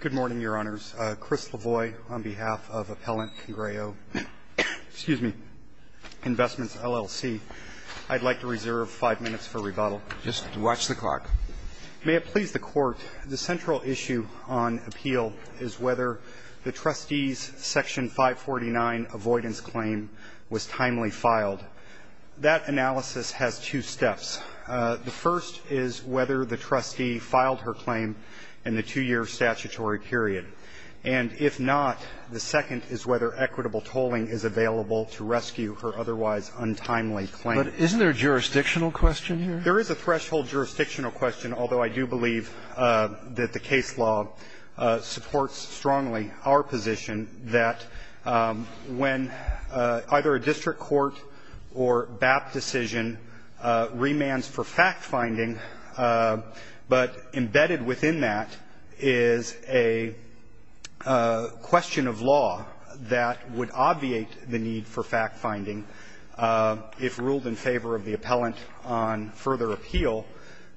Good morning, Your Honors. Chris Lavoie, on behalf of Appellant Congrejo Investments, LLC. I'd like to reserve five minutes for rebuttal. Just watch the clock. May it please the Court, the central issue on appeal is whether the trustee's Section 549 avoidance claim was timely filed. That analysis has two steps. The first is whether the trustee filed her claim in the two-year statutory period. And if not, the second is whether equitable tolling is available to rescue her otherwise untimely claim. But isn't there a jurisdictional question here? There is a threshold jurisdictional question, although I do believe that the case law supports strongly our position that when either a district court or BAP decision remands for fact-finding, but embedded within that is a question of law that would obviate the need for fact-finding, if ruled in favor of the appellant on further appeal,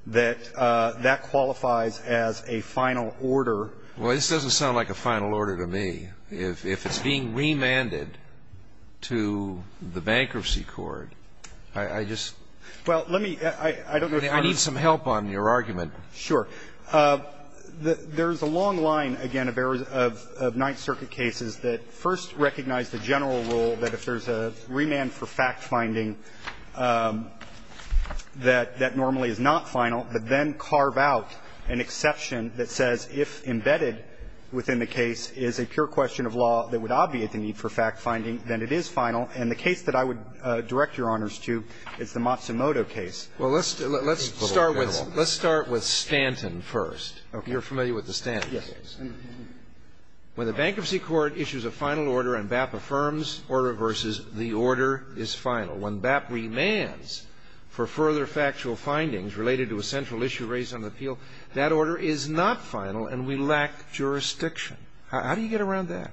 that that qualifies as a final order. Well, this doesn't sound like a final order to me. If it's being remanded to the bankruptcy court, I just need some help on your argument. Sure. There's a long line, again, of Ninth Circuit cases that first recognize the general rule that if there's a remand for fact-finding that normally is not final, but then carve out an exception that says, if embedded within the case is a pure question of law that would obviate the need for fact-finding, then it is final. And the case that I would direct Your Honors to is the Matsumoto case. Well, let's start with Stanton first. You're familiar with the Stanton case. Yes. When the bankruptcy court issues a final order and BAP affirms order versus the order is final, when BAP remands for further factual findings related to a central issue raised on the appeal, that order is not final and we lack jurisdiction. How do you get around that?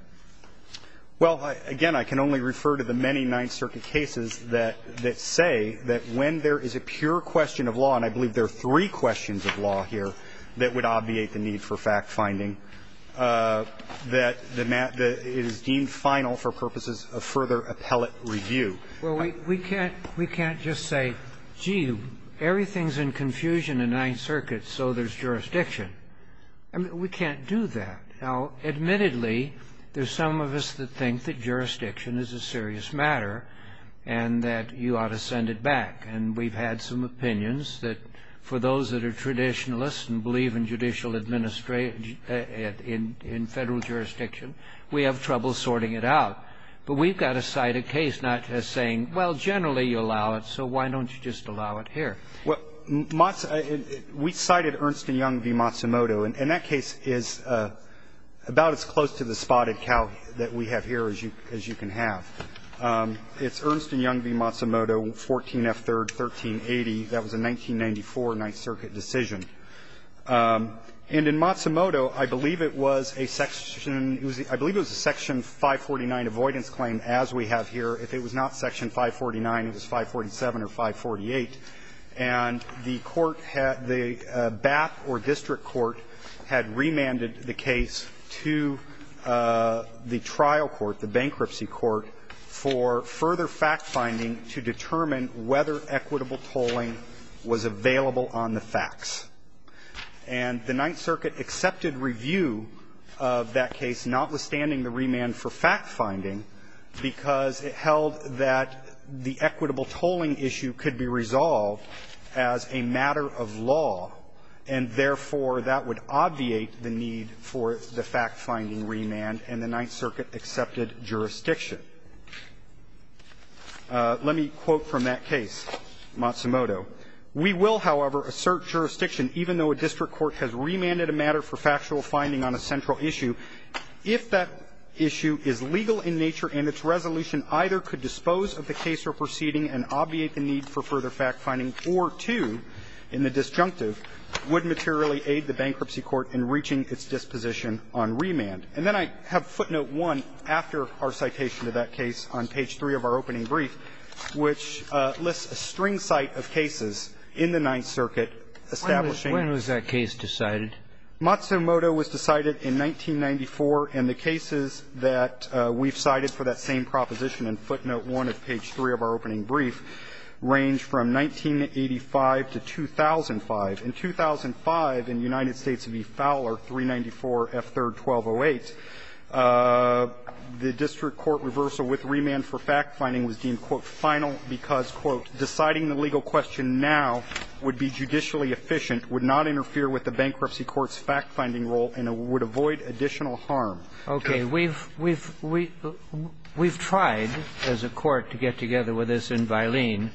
Well, again, I can only refer to the many Ninth Circuit cases that say that when there is a pure question of law, and I believe there are three questions of law here that would obviate the need for fact-finding, that it is deemed final for purposes of further appellate review. Well, we can't just say, gee, everything's in confusion in Ninth Circuit, so there's jurisdiction. I mean, we can't do that. Now, admittedly, there's some of us that think that jurisdiction is a serious matter and that you ought to send it back. And we've had some opinions that for those that are traditionalists and believe in judicial administration in Federal jurisdiction, we have trouble sorting it out. But we've got to cite a case, not just saying, well, generally you allow it, so why don't you just allow it here? Well, we cited Ernst & Young v. Matsumoto, and that case is about as close to the spotted cow that we have here as you can have. It's Ernst & Young v. Matsumoto, 14F3rd, 1380. That was a 1994 Ninth Circuit decision. And in Matsumoto, I believe it was a Section 549 avoidance claim, as we have here. If it was not Section 549, it was 547 or 548. And the court had the BAP or district court had remanded the case to the trial court, the bankruptcy court, for further fact-finding to determine whether equitable tolling was available on the facts. And the Ninth Circuit accepted review of that case, notwithstanding the remand for fact-finding, because it held that the equitable tolling issue could be resolved as a matter of law, and, therefore, that would obviate the need for the fact-finding remand, and the Ninth Circuit accepted jurisdiction. Let me quote from that case, Matsumoto. We will, however, assert jurisdiction, even though a district court has remanded a matter for factual finding on a central issue, if that issue is legal in nature and its resolution either could dispose of the case or proceeding and obviate the need for further fact-finding, or two, in the disjunctive, would materially aid the bankruptcy court in reaching its disposition on remand. And then I have footnote 1 after our citation of that case on page 3 of our opening brief, which lists a string cite of cases in the Ninth Circuit establishing When was that case decided? Matsumoto was decided in 1994, and the cases that we've cited for that same proposition in footnote 1 of page 3 of our opening brief range from 1985 to 2005. In 2005, in United States v. Fowler, 394 F. 3rd, 1208, the district court reversal with remand for fact-finding was deemed, quote, final, because, quote, deciding the legal question now would be judicially efficient, would not interfere with the bankruptcy court's fact-finding role, and it would avoid additional harm. Okay. We've tried as a court to get together with this in Vailene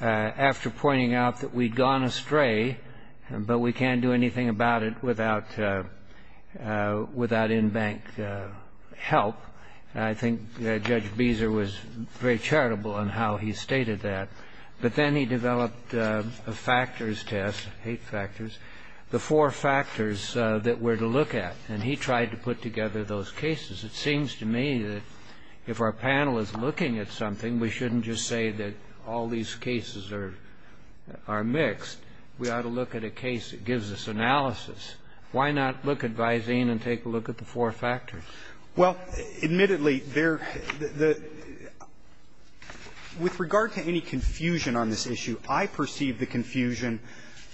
after pointing out that we'd gone astray, but we can't do anything about it without in-bank help. I think Judge Beezer was very charitable in how he stated that. But then he developed a factors test, eight factors, the four factors that we're going to look at, and he tried to put together those cases. It seems to me that if our panel is looking at something, we shouldn't just say that all these cases are mixed. We ought to look at a case that gives us analysis. Why not look at Vailene and take a look at the four factors? Well, admittedly, there the the the with regard to any confusion on this issue, I perceive the confusion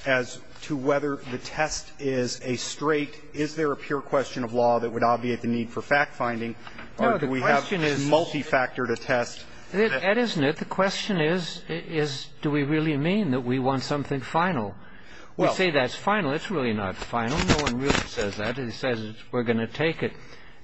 as to whether the test is a straight, is there a pure question of law that would obviate the need for fact-finding, or do we have a multi-factor to test? That isn't it. The question is, is do we really mean that we want something final? We say that's final. It's really not final. No one really says that. It says we're going to take it.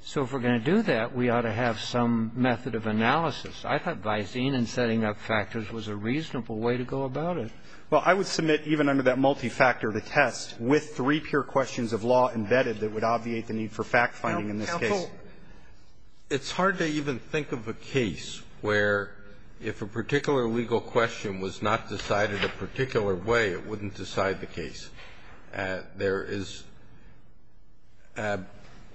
So if we're going to do that, we ought to have some method of analysis. I thought Vailene and setting up factors was a reasonable way to go about it. Well, I would submit even under that multi-factor, the test with three pure questions of law embedded that would obviate the need for fact-finding in this case. Counsel, it's hard to even think of a case where if a particular legal question was not decided a particular way, it wouldn't decide the case. There is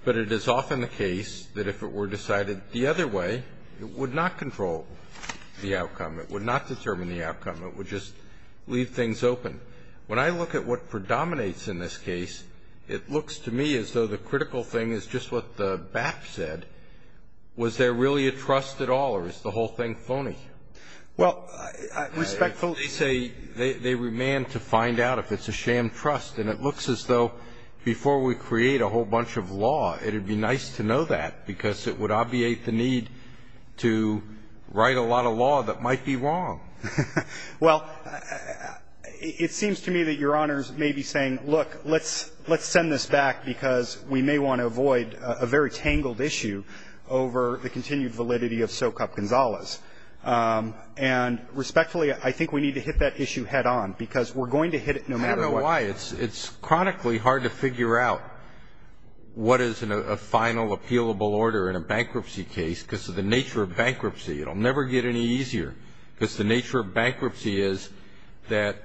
but it is often the case that if it were decided the other way, it would not control the outcome, it would not determine the outcome, it would just leave things open. When I look at what predominates in this case, it looks to me as though the critical thing is just what the BAP said. Was there really a trust at all, or is the whole thing phony? Well, I respectfully say they remand to find out if it's a sham trust, and it looks as though before we create a whole bunch of law, it would be nice to know that, because it would obviate the need to write a lot of law that might be wrong. Well, it seems to me that Your Honors may be saying, look, let's send this back because we may want to avoid a very tangled issue over the continued validity of Socap Gonzalez. And respectfully, I think we need to hit that issue head on, because we're going to hit it no matter what. I don't know why. It's chronically hard to figure out what is a final, appealable order in a bankruptcy case, because of the nature of bankruptcy. It'll never get any easier, because the nature of bankruptcy is that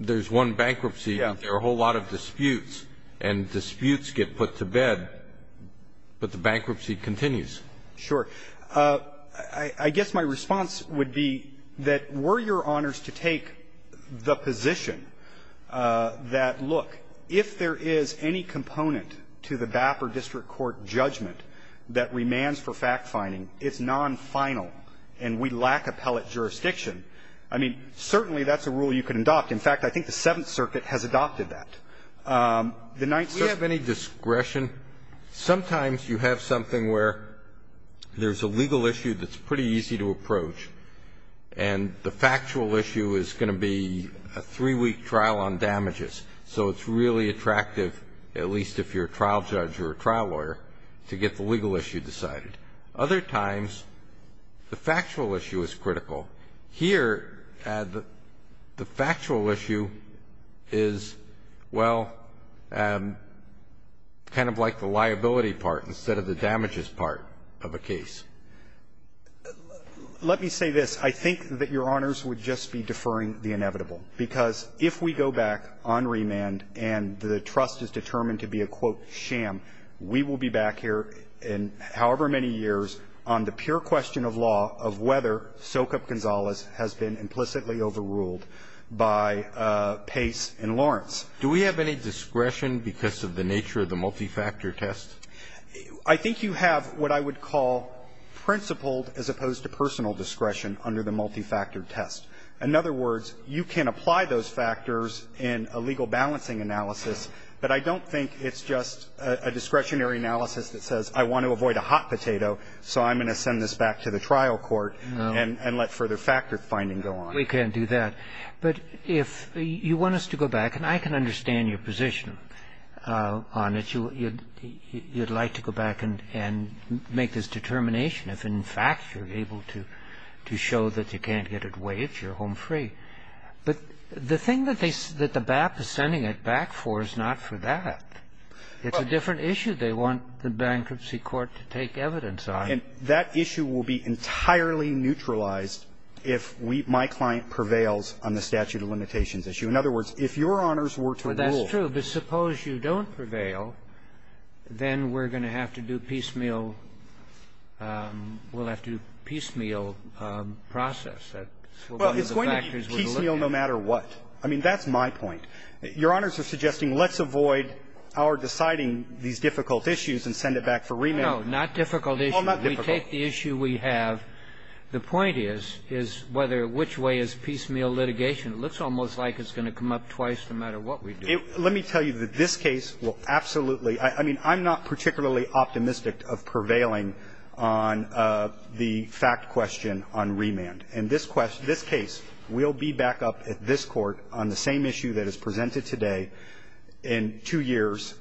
there's one bankruptcy, and there are a whole lot of disputes. And disputes get put to bed, but the bankruptcy continues. Sure. I guess my response would be that were Your Honors to take the position that, look, if there is any component to the BAP or district court judgment that remands for fact-finding, it's non-final, and we lack appellate jurisdiction, I mean, certainly that's a rule you can adopt. In fact, I think the Seventh Circuit has adopted that. The Ninth Circuit ---- Do we have any discretion? Sometimes you have something where there's a legal issue that's pretty easy to approach, and the factual issue is going to be a three-week trial on damages. So it's really attractive, at least if you're a trial judge or a trial lawyer, to get the legal issue decided. Other times, the factual issue is critical. Here, the factual issue is, well, kind of like the liability part instead of the damages part of a case. Let me say this. I think that Your Honors would just be deferring the inevitable, because if we go back on remand and the trust is determined to be a, quote, sham, we will be back here in however many years on the pure question of law of whether Sokup Construction and Gonzalez has been implicitly overruled by Pace and Lawrence. Do we have any discretion because of the nature of the multi-factor test? I think you have what I would call principled, as opposed to personal discretion, under the multi-factor test. In other words, you can apply those factors in a legal balancing analysis, but I don't think it's just a discretionary analysis that says, I want to avoid a hot potato, so I'm going to send this back to the trial court and let further factor finding go on. We can't do that. But if you want us to go back, and I can understand your position on it, you'd like to go back and make this determination if, in fact, you're able to show that you can't get it waived, you're home free. But the thing that they say that the BAP is sending it back for is not for that. It's a different issue. They want the bankruptcy court to take evidence on it. And that issue will be entirely neutralized if we, my client, prevails on the statute of limitations issue. In other words, if Your Honors were to rule that's true. But suppose you don't prevail, then we're going to have to do piecemeal we'll have to do piecemeal process. Well, it's going to be piecemeal no matter what. I mean, that's my point. Your Honors are suggesting let's avoid our deciding these difficult issues and send it back for remand. No, not difficult issues. We take the issue we have. The point is, is whether which way is piecemeal litigation. It looks almost like it's going to come up twice no matter what we do. Let me tell you that this case will absolutely – I mean, I'm not particularly optimistic of prevailing on the fact question on remand. And this case will be back up at this Court on the same issue that is presented today in two years,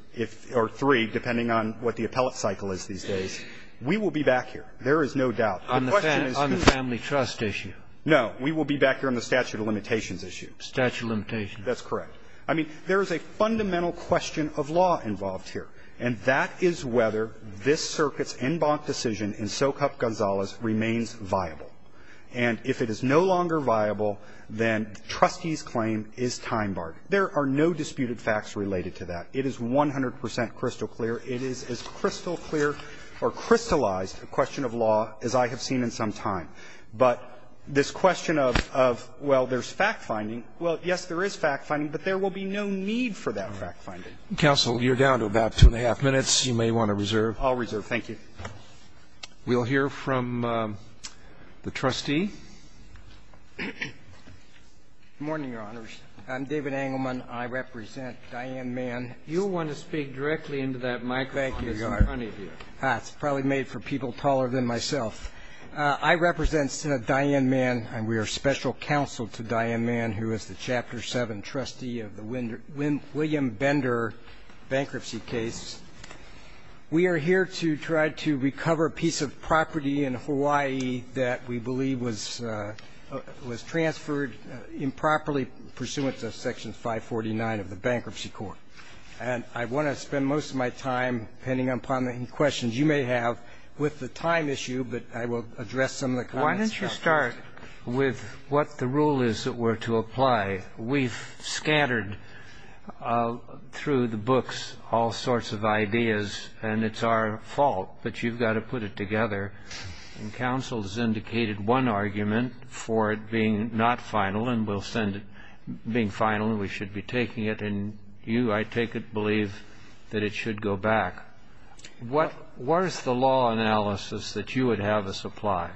or three, depending on what the appellate cycle is these days. We will be back here. There is no doubt. The question is who – On the family trust issue. No. We will be back here on the statute of limitations issue. Statute of limitations. That's correct. I mean, there is a fundamental question of law involved here, and that is whether this circuit's en banc decision in Socap Gonzalez remains viable. And if it is no longer viable, then trustee's claim is time barred. There are no disputed facts related to that. It is 100 percent crystal clear. It is as crystal clear or crystallized a question of law as I have seen in some time. But this question of, well, there's fact-finding, well, yes, there is fact-finding, but there will be no need for that fact-finding. Counsel, you're down to about two and a half minutes. You may want to reserve. I'll reserve. Thank you. We'll hear from the trustee. Good morning, Your Honors. I'm David Engelman. I represent Diane Mann. You'll want to speak directly into that microphone. Thank you, Your Honor. It's probably made for people taller than myself. I represent Diane Mann, and we are special counsel to Diane Mann, who is the Chapter 7 trustee of the William Bender bankruptcy case. We are here to try to recover a piece of property in Hawaii that we believe was transferred improperly pursuant to Section 549 of the Bankruptcy Court. And I want to spend most of my time, depending upon the questions you may have, with the time issue, but I will address some of the comments. Why don't you start with what the rule is that we're to apply. We've scattered through the books all sorts of ideas, and it's our fault, but you've got to put it together. And counsel has indicated one argument for it being not final, and we'll send it being final, and we should be taking it. And you, I take it, believe that it should go back. What is the law analysis that you would have us apply?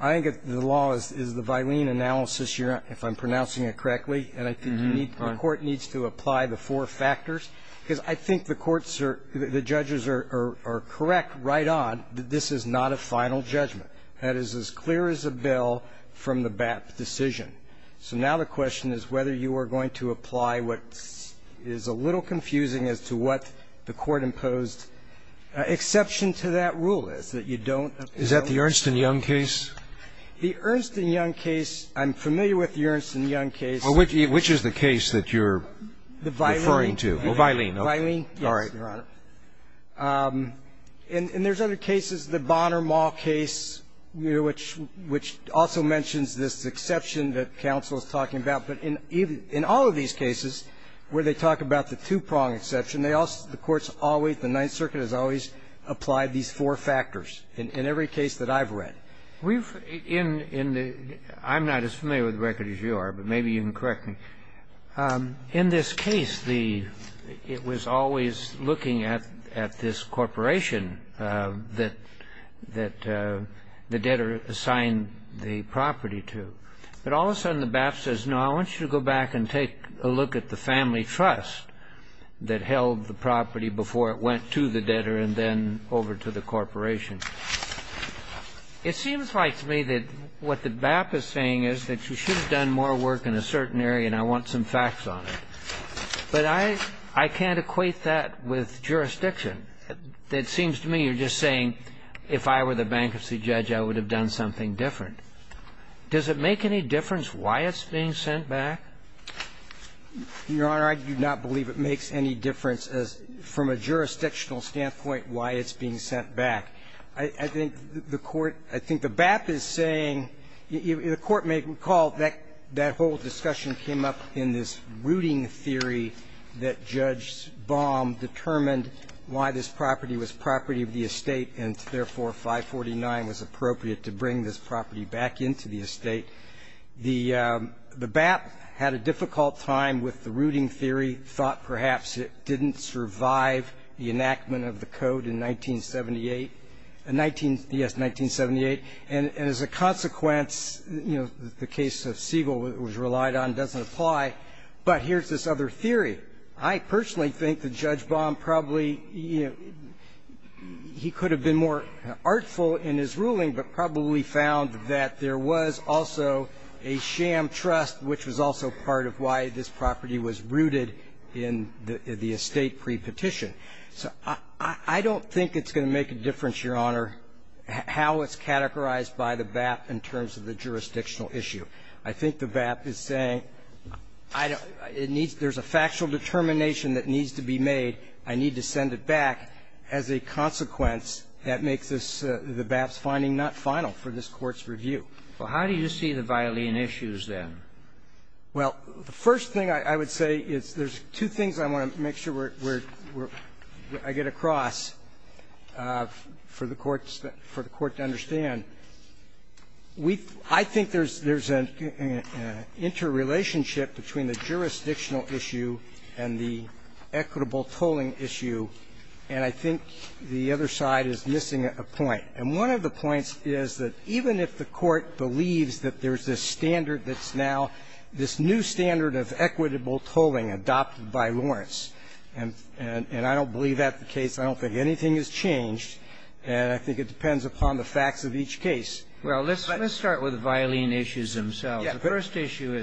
I think the law is the Vilene analysis, if I'm pronouncing it correctly. And I think the Court needs to apply the four factors, because I think the courts are the judges are correct right on that this is not a final judgment. That is as clear as a bell from the BAP decision. So now the question is whether you are going to apply what is a little confusing as to what the Court imposed. Exception to that rule is that you don't. Is that the Ernst and Young case? The Ernst and Young case, I'm familiar with the Ernst and Young case. Which is the case that you're referring to? Vilene. Vilene, yes, Your Honor. And there's other cases, the Bonner-Mall case, which also mentions this exception that counsel is talking about. But in all of these cases where they talk about the two-prong exception, the courts always, the Ninth Circuit has always applied these four factors in every case that I've read. We've, in the, I'm not as familiar with the record as you are, but maybe you can correct me. In this case, the, it was always looking at this corporation that the debtor assigned the property to. But all of a sudden the BAP says, no, I want you to go back and take a look at the family trust that held the property before it went to the debtor and then over to the corporation. It seems like to me that what the BAP is saying is that you should have done more work in a certain area and I want some facts on it. But I, I can't equate that with jurisdiction. It seems to me you're just saying, if I were the bankruptcy judge, I would have done something different. Does it make any difference why it's being sent back? Your Honor, I do not believe it makes any difference as, from a jurisdictional standpoint, why it's being sent back. I think the Court, I think the BAP is saying, the Court may recall that that whole discussion came up in this rooting theory that Judge Baum determined why this property was property of the estate and therefore 549 was appropriate to bring this property back into the estate. The BAP had a difficult time with the rooting theory, thought perhaps it didn't survive the enactment of the code in 1978, yes, 1978. And as a consequence, the case of Siegel was relied on, doesn't apply. But here's this other theory. I personally think that Judge Baum probably, he could have been more artful in his ruling, but probably found that there was also a sham trust, which was also part of why this property was rooted in the estate pre-petition. So I don't think it's going to make a difference, Your Honor, how it's categorized by the BAP in terms of the jurisdictional issue. I think the BAP is saying, I don't, it needs, there's a factual determination that needs to be made, I need to send it back. As a consequence, that makes the BAP's finding not final for this Court's review. Well, how do you see the violin issues, then? Well, the first thing I would say is there's two things I want to make sure we're we're, I get across for the Court's, for the Court to understand. We, I think there's, there's an interrelationship between the jurisdictional issue and the equitable tolling issue, and I think the other side is missing a point. And one of the points is that even if the Court believes that there's this standard that's now, this new standard of equitable tolling adopted by Lawrence, and I don't believe that's the case, I don't think anything has changed, and I think it depends upon the facts of each case. Well, let's start with the violin issues themselves. The first issue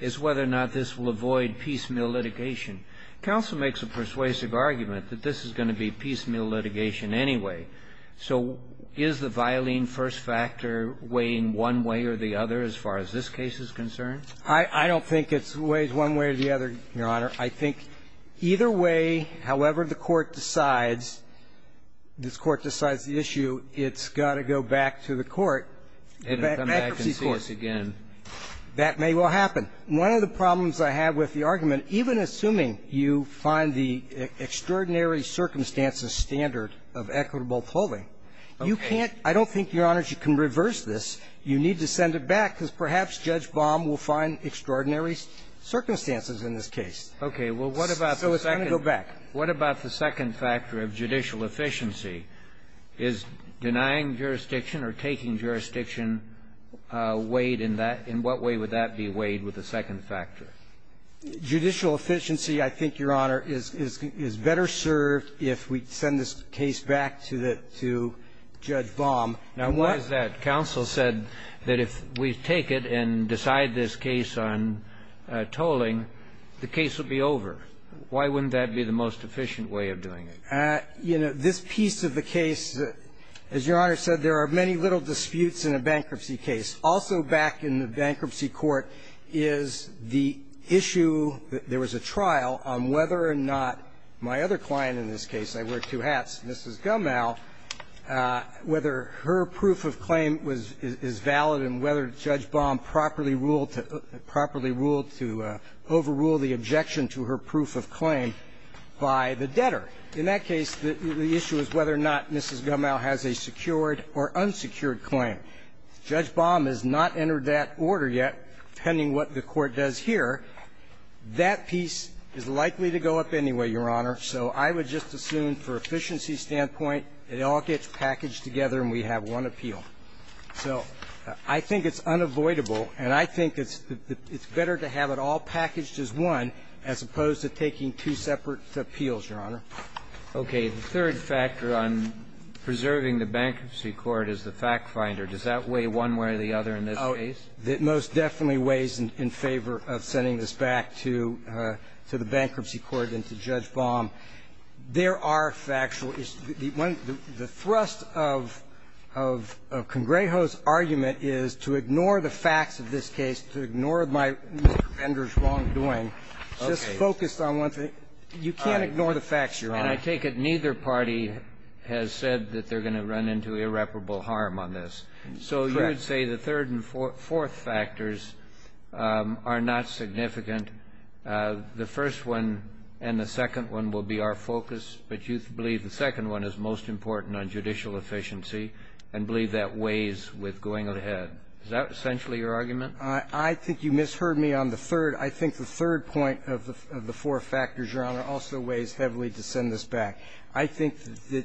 is whether or not this will avoid piecemeal litigation. Counsel makes a persuasive argument that this is going to be piecemeal litigation anyway. So is the violin first factor weighing one way or the other as far as this case is concerned? I don't think it weighs one way or the other, Your Honor. I think either way, however the Court decides, this Court decides the issue, it's got to go back to the court, the accuracy court. And it'll come back and see us again. That may well happen. One of the problems I have with the argument, even assuming you find the extraordinary circumstances standard of equitable tolling, you can't – I don't think, Your Honor, you can reverse this. You need to send it back, because perhaps Judge Baum will find extraordinary circumstances in this case. Okay. Well, what about the second? So it's going to go back. What about the second factor of judicial efficiency? Is denying jurisdiction or taking jurisdiction weighed in that – in what way would that be weighed with the second factor? Judicial efficiency, I think, Your Honor, is better served if we send this case back to the – to Judge Baum. Now, why is that? Counsel said that if we take it and decide this case on tolling, the case would be over. Why wouldn't that be the most efficient way of doing it? You know, this piece of the case, as Your Honor said, there are many little disputes in a bankruptcy case. Also back in the bankruptcy court is the issue – there was a trial on whether or not my other client in this case – I wear two hats – Mrs. Gummell, whether her proof of claim was – is valid and whether Judge Baum properly ruled to – properly ruled to overrule the objection to her proof of claim by the debtor. In that case, the issue is whether or not Mrs. Gummell has a secured or unsecured claim. Judge Baum has not entered that order yet, depending what the Court does here. That piece is likely to go up anyway, Your Honor, so I would just assume for efficiency standpoint, it all gets packaged together and we have one appeal. So I think it's unavoidable, and I think it's better to have it all packaged as one as opposed to taking two separate appeals, Your Honor. Okay. The third factor on preserving the bankruptcy court is the factfinder. Does that weigh one way or the other in this case? Oh, it most definitely weighs in favor of sending this back to the bankruptcy court and to Judge Baum. There are factual – the thrust of Congrejo's argument is to ignore the facts of this case, to ignore my – Mr. Bender's wrongdoing, just focused on one thing. You can't ignore the facts, Your Honor. And I take it neither party has said that they're going to run into irreparable harm on this. Correct. So you would say the third and fourth factors are not significant. The first one and the second one will be our focus, but you believe the second one is most important on judicial efficiency and believe that weighs with going ahead. Is that essentially your argument? I think you misheard me on the third. I think the third point of the four factors, Your Honor, also weighs heavily to send this back. I think that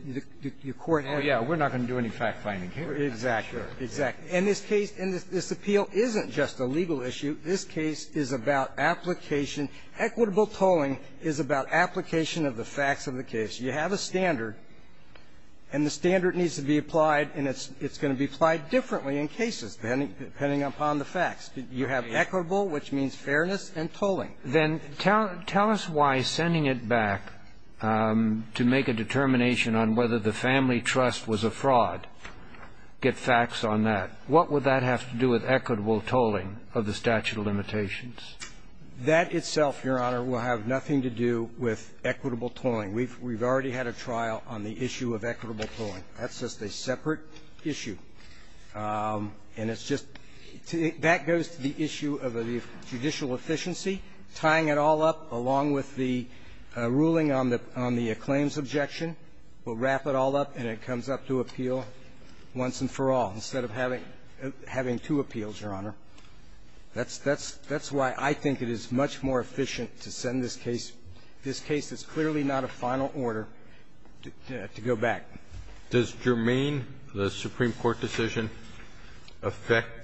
the court has to do that. Oh, yeah. We're not going to do any factfinding here. Exactly. Exactly. And this case – and this appeal isn't just a legal issue. This case is about application. Equitable tolling is about application of the facts of the case. You have a standard, and the standard needs to be applied, and it's going to be applied differently in cases, depending upon the facts. You have equitable, which means fairness, and tolling. Then tell us why sending it back to make a determination on whether the family trust was a fraud, get facts on that. What would that have to do with equitable tolling of the statute of limitations? That itself, Your Honor, will have nothing to do with equitable tolling. We've already had a trial on the issue of equitable tolling. That's just a separate issue. And it's just – that goes to the issue of judicial efficiency. Tying it all up, along with the ruling on the claims objection, will wrap it all up, and it comes up to appeal once and for all, instead of having two appeals, Your Honor. That's why I think it is much more efficient to send this case – this case that's clearly not a final order to go back. Does Germain, the Supreme Court decision, affect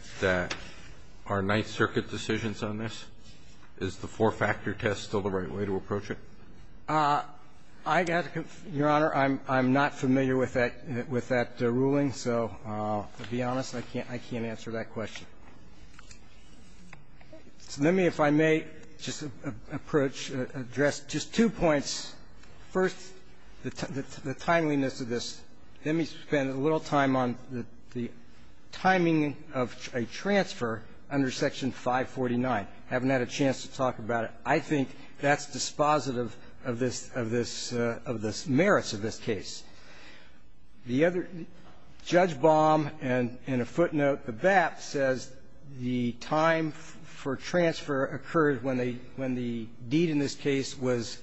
our Ninth Circuit decisions on this? Is the four-factor test still the right way to approach it? I got to – Your Honor, I'm not familiar with that ruling, so to be honest, I can't answer that question. Let me, if I may, just approach, address just two points. First, the timeliness of this. Let me spend a little time on the timing of a transfer under Section 549. I haven't had a chance to talk about it. I think that's dispositive of this – of this – of the merits of this case. The other – Judge Baum, in a footnote to BAP, says the time for transfer occurred when the deed in this case was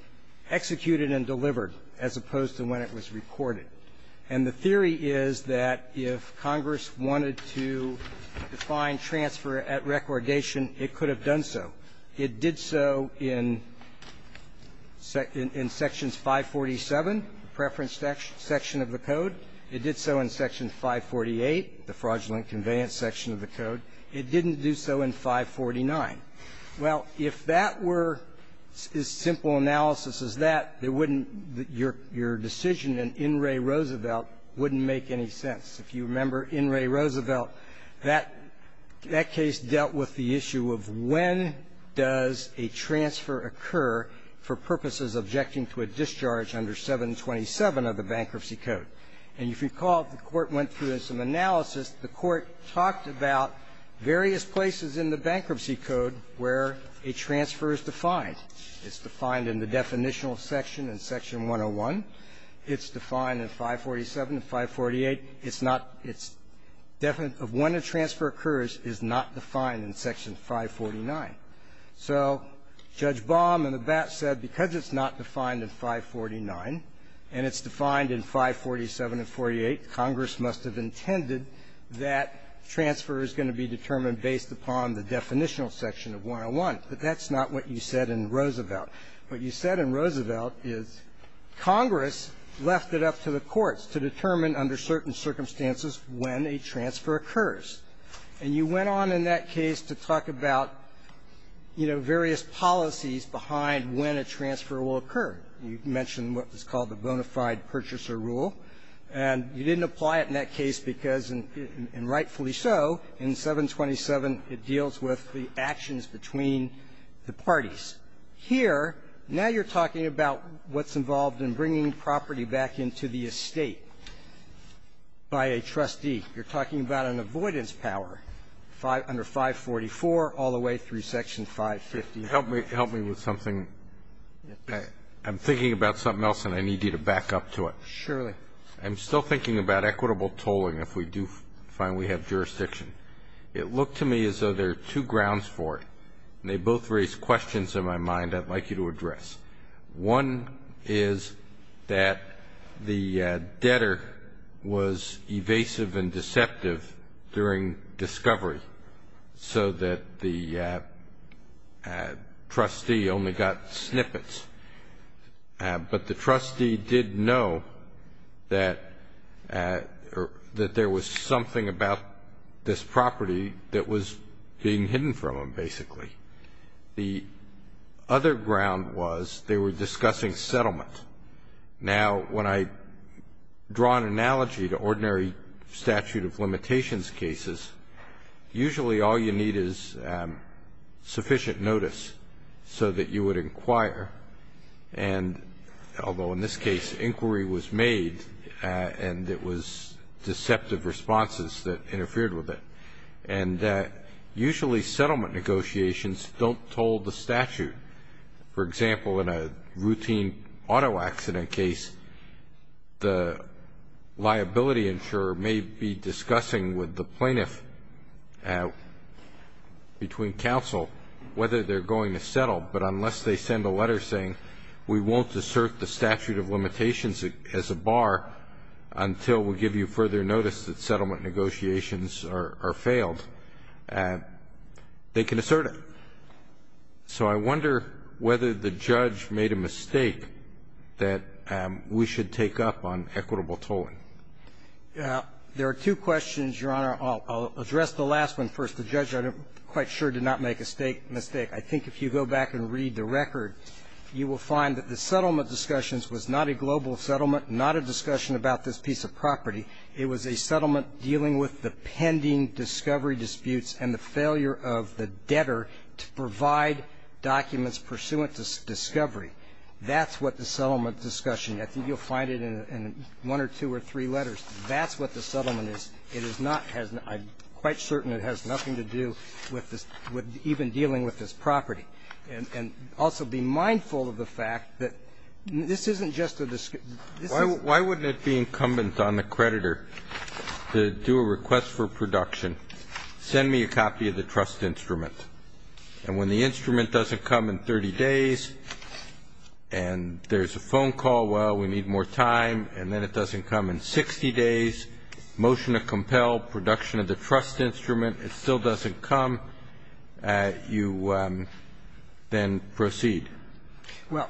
executed and delivered, as opposed to when it was recorded. And the theory is that if Congress wanted to define transfer at recordation, it could have done so. It did so in – in Sections 547, the preference section of the Code. It did so in Section 548, the fraudulent conveyance section of the Code. It didn't do so in 549. Well, if that were as simple an analysis as that, it wouldn't – your – your decision in In re Roosevelt wouldn't make any sense. If you remember, in re Roosevelt, that – that case dealt with the issue of when does a transfer occur for purposes of objecting to a discharge under 727 of the Bankruptcy Code. And if you recall, the Court went through some analysis. The Court talked about various places in the Bankruptcy Code where a transfer is defined. It's defined in the definitional section in Section 101. It's defined in 547 and 548. It's not – it's – when a transfer occurs is not defined in Section 549. So Judge Baum, in the BAP, said because it's not defined in 549 and it's defined in 547 and 48, Congress must have intended that transfer is going to be determined based upon the definitional section of 101. But that's not what you said in Roosevelt. What you said in Roosevelt is Congress left it up to the courts to determine under certain circumstances when a transfer occurs. And you went on in that case to talk about, you know, various policies behind when a transfer will occur. You mentioned what was called the bona fide purchaser rule. And you didn't apply it in that case because, and rightfully so, in 727 it deals with the actions between the parties. Here, now you're talking about what's involved in bringing property back into the estate by a trustee. You're talking about an avoidance power under 544 all the way through Section 550. Can you help me with something? I'm thinking about something else and I need you to back up to it. Surely. I'm still thinking about equitable tolling if we do find we have jurisdiction. It looked to me as though there are two grounds for it. And they both raise questions in my mind I'd like you to address. One is that the debtor was evasive and deceptive during discovery so that the trustee only got snippets. But the trustee did know that there was something about this property that was being hidden from him, basically. The other ground was they were discussing settlement. Now, when I draw an analogy to ordinary statute of limitations cases, usually all you need is sufficient notice so that you would inquire. And although in this case inquiry was made and it was deceptive responses that interfered with it. And usually settlement negotiations don't toll the statute. For example, in a routine auto accident case, the liability insurer may be able to tell the plaintiff between counsel whether they're going to settle. But unless they send a letter saying, we won't assert the statute of limitations as a bar until we give you further notice that settlement negotiations are failed, they can assert it. So I wonder whether the judge made a mistake that we should take up on equitable tolling. There are two questions, Your Honor. I'll address the last one first. The judge, I'm quite sure, did not make a mistake. I think if you go back and read the record, you will find that the settlement discussions was not a global settlement, not a discussion about this piece of property. It was a settlement dealing with the pending discovery disputes and the failure of the debtor to provide documents pursuant to discovery. That's what the settlement discussion. I think you'll find it in one or two or three letters. That's what the settlement is. It is not as an --- I'm quite certain it has nothing to do with this --- with even dealing with this property. And also, be mindful of the fact that this isn't just a discussion. This is a discussion. Why wouldn't it be incumbent on the creditor to do a request for production, send me a copy of the trust instrument. And when the instrument doesn't come in 30 days and there's a phone call, well, we need more time, and then it doesn't come in 60 days, motion to compel production of the trust instrument, it still doesn't come, you then proceed. Well,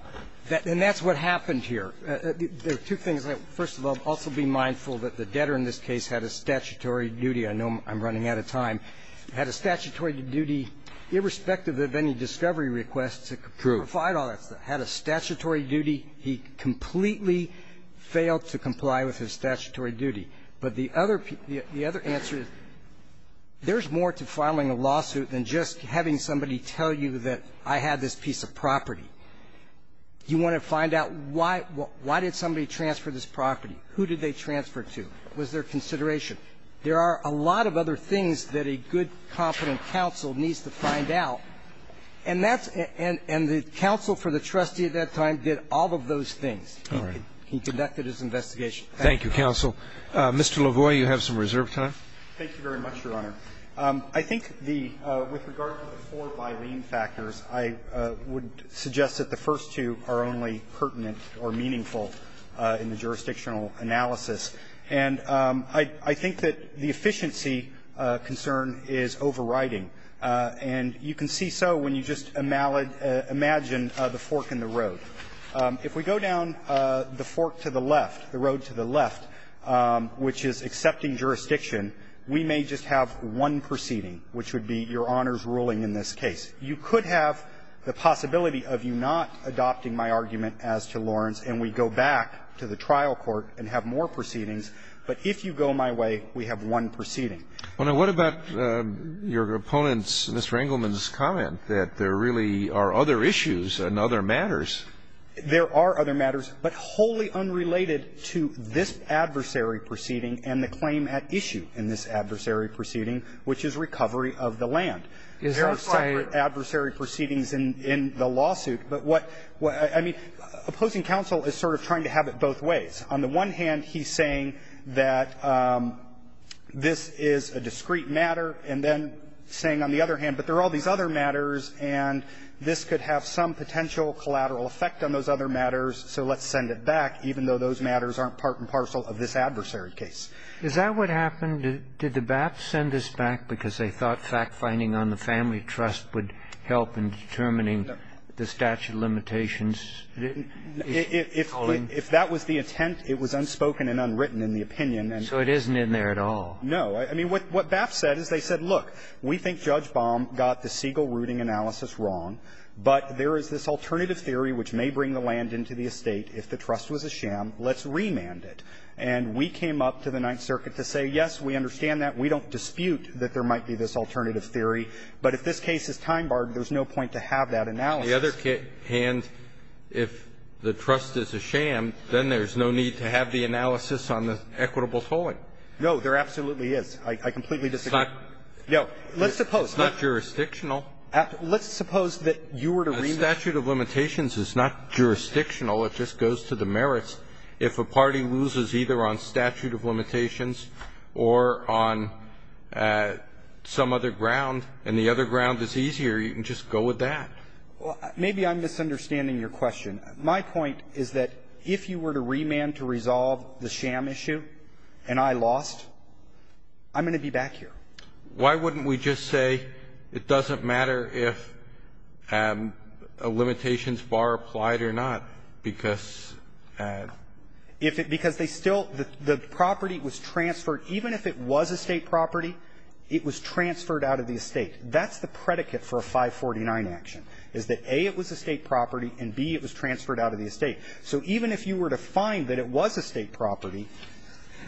and that's what happened here. There are two things. First of all, also be mindful that the debtor in this case had a statutory duty. I know I'm running out of time. Had a statutory duty, irrespective of any discovery request to provide all that stuff. Had a statutory duty. He completely failed to comply with his statutory duty. But the other answer is there's more to filing a lawsuit than just having somebody tell you that I had this piece of property. You want to find out why did somebody transfer this property? Who did they transfer it to? Was there consideration? There are a lot of other things that a good, competent counsel needs to find out. And that's the counsel for the trustee at that time did all of those things. He conducted his investigation. Thank you. Roberts. Roberts. Thank you, counsel. Mr. LaVoy, you have some reserve time. LaVoy. Thank you very much, Your Honor. I think the – with regard to the four byline factors, I would suggest that the first two are only pertinent or meaningful in the jurisdictional analysis. And I think that the efficiency concern is overriding. And you can see so when you just imagine the fork in the road. If we go down the fork to the left, the road to the left, which is accepting jurisdiction, we may just have one proceeding, which would be Your Honor's ruling in this case. You could have the possibility of you not adopting my argument as to Lawrence, and we go back to the trial court and have more proceedings. But if you go my way, we have one proceeding. Well, now, what about your opponent's, Mr. Engelman's, comment that there really are other issues and other matters? There are other matters, but wholly unrelated to this adversary proceeding and the claim at issue in this adversary proceeding, which is recovery of the land. Is that saying – There are several adversary proceedings in the lawsuit. But what – I mean, opposing counsel is sort of trying to have it both ways. On the one hand, he's saying that this is a discrete matter, and then saying on the other hand, but there are all these other matters, and this could have some potential collateral effect on those other matters, so let's send it back, even though those matters aren't part and parcel of this adversary case. Is that what happened? Did the BAP send this back because they thought fact-finding on the family trust would help in determining the statute of limitations? If that was the intent, it was unspoken and unwritten in the opinion. And so it isn't in there at all. No. I mean, what BAP said is they said, look, we think Judge Baum got the Siegel rooting analysis wrong, but there is this alternative theory which may bring the land into the estate. If the trust was a sham, let's remand it. And we came up to the Ninth Circuit to say, yes, we understand that. We don't dispute that there might be this alternative theory. But if this case is time-barred, there's no point to have that analysis. The other hand, if the trust is a sham, then there's no need to have the analysis on the equitable tolling. No, there absolutely is. I completely disagree. It's not jurisdictional. Let's suppose that you were to remand it. A statute of limitations is not jurisdictional. It just goes to the merits. If a party loses either on statute of limitations or on some other ground, it's And the other ground is easier. You can just go with that. Well, maybe I'm misunderstanding your question. My point is that if you were to remand to resolve the sham issue and I lost, I'm going to be back here. Why wouldn't we just say it doesn't matter if a limitations bar applied or not, because if it – because they still – the property was transferred. Even if it was estate property, it was transferred out of the estate. That's the predicate for a 549 action, is that, A, it was estate property and, B, it was transferred out of the estate. So even if you were to find that it was estate property,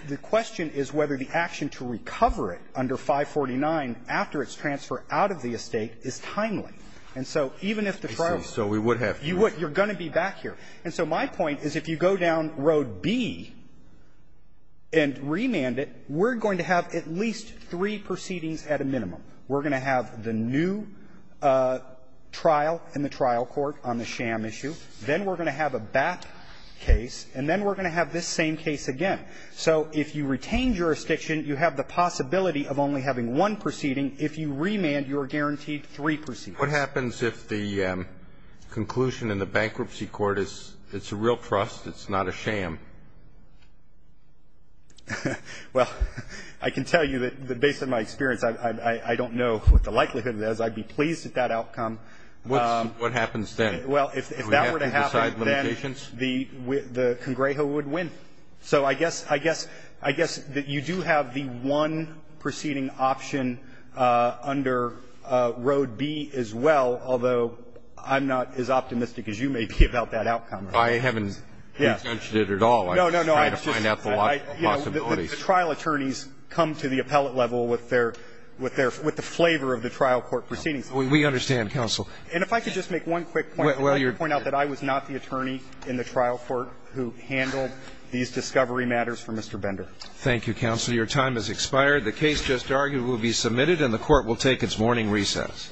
the question is whether the action to recover it under 549 after its transfer out of the estate is timely. And so even if the trial – So we would have to – You would. You're going to be back here. And so my point is if you go down Road B and remand it, we're going to have at least three proceedings at a minimum. We're going to have the new trial in the trial court on the sham issue. Then we're going to have a back case. And then we're going to have this same case again. So if you retain jurisdiction, you have the possibility of only having one proceeding. If you remand, you're guaranteed three proceedings. What happens if the conclusion in the bankruptcy court is it's a real trust, it's not a sham? Well, I can tell you that based on my experience, I don't know what the likelihood is. I'd be pleased at that outcome. What happens then? Well, if that were to happen, then the Congrejo would win. So I guess that you do have the one proceeding option under Road B as well, although I'm not as optimistic as you may be about that outcome. I haven't retouched it at all. No, no, no. I'm just trying to find out the possibilities. The trial attorneys come to the appellate level with the flavor of the trial court proceedings. We understand, counsel. And if I could just make one quick point. I'd like to point out that I was not the attorney in the trial court who handled these discovery matters for Mr. Bender. Thank you, counsel. Your time has expired. The case just argued will be submitted and the court will take its morning recess.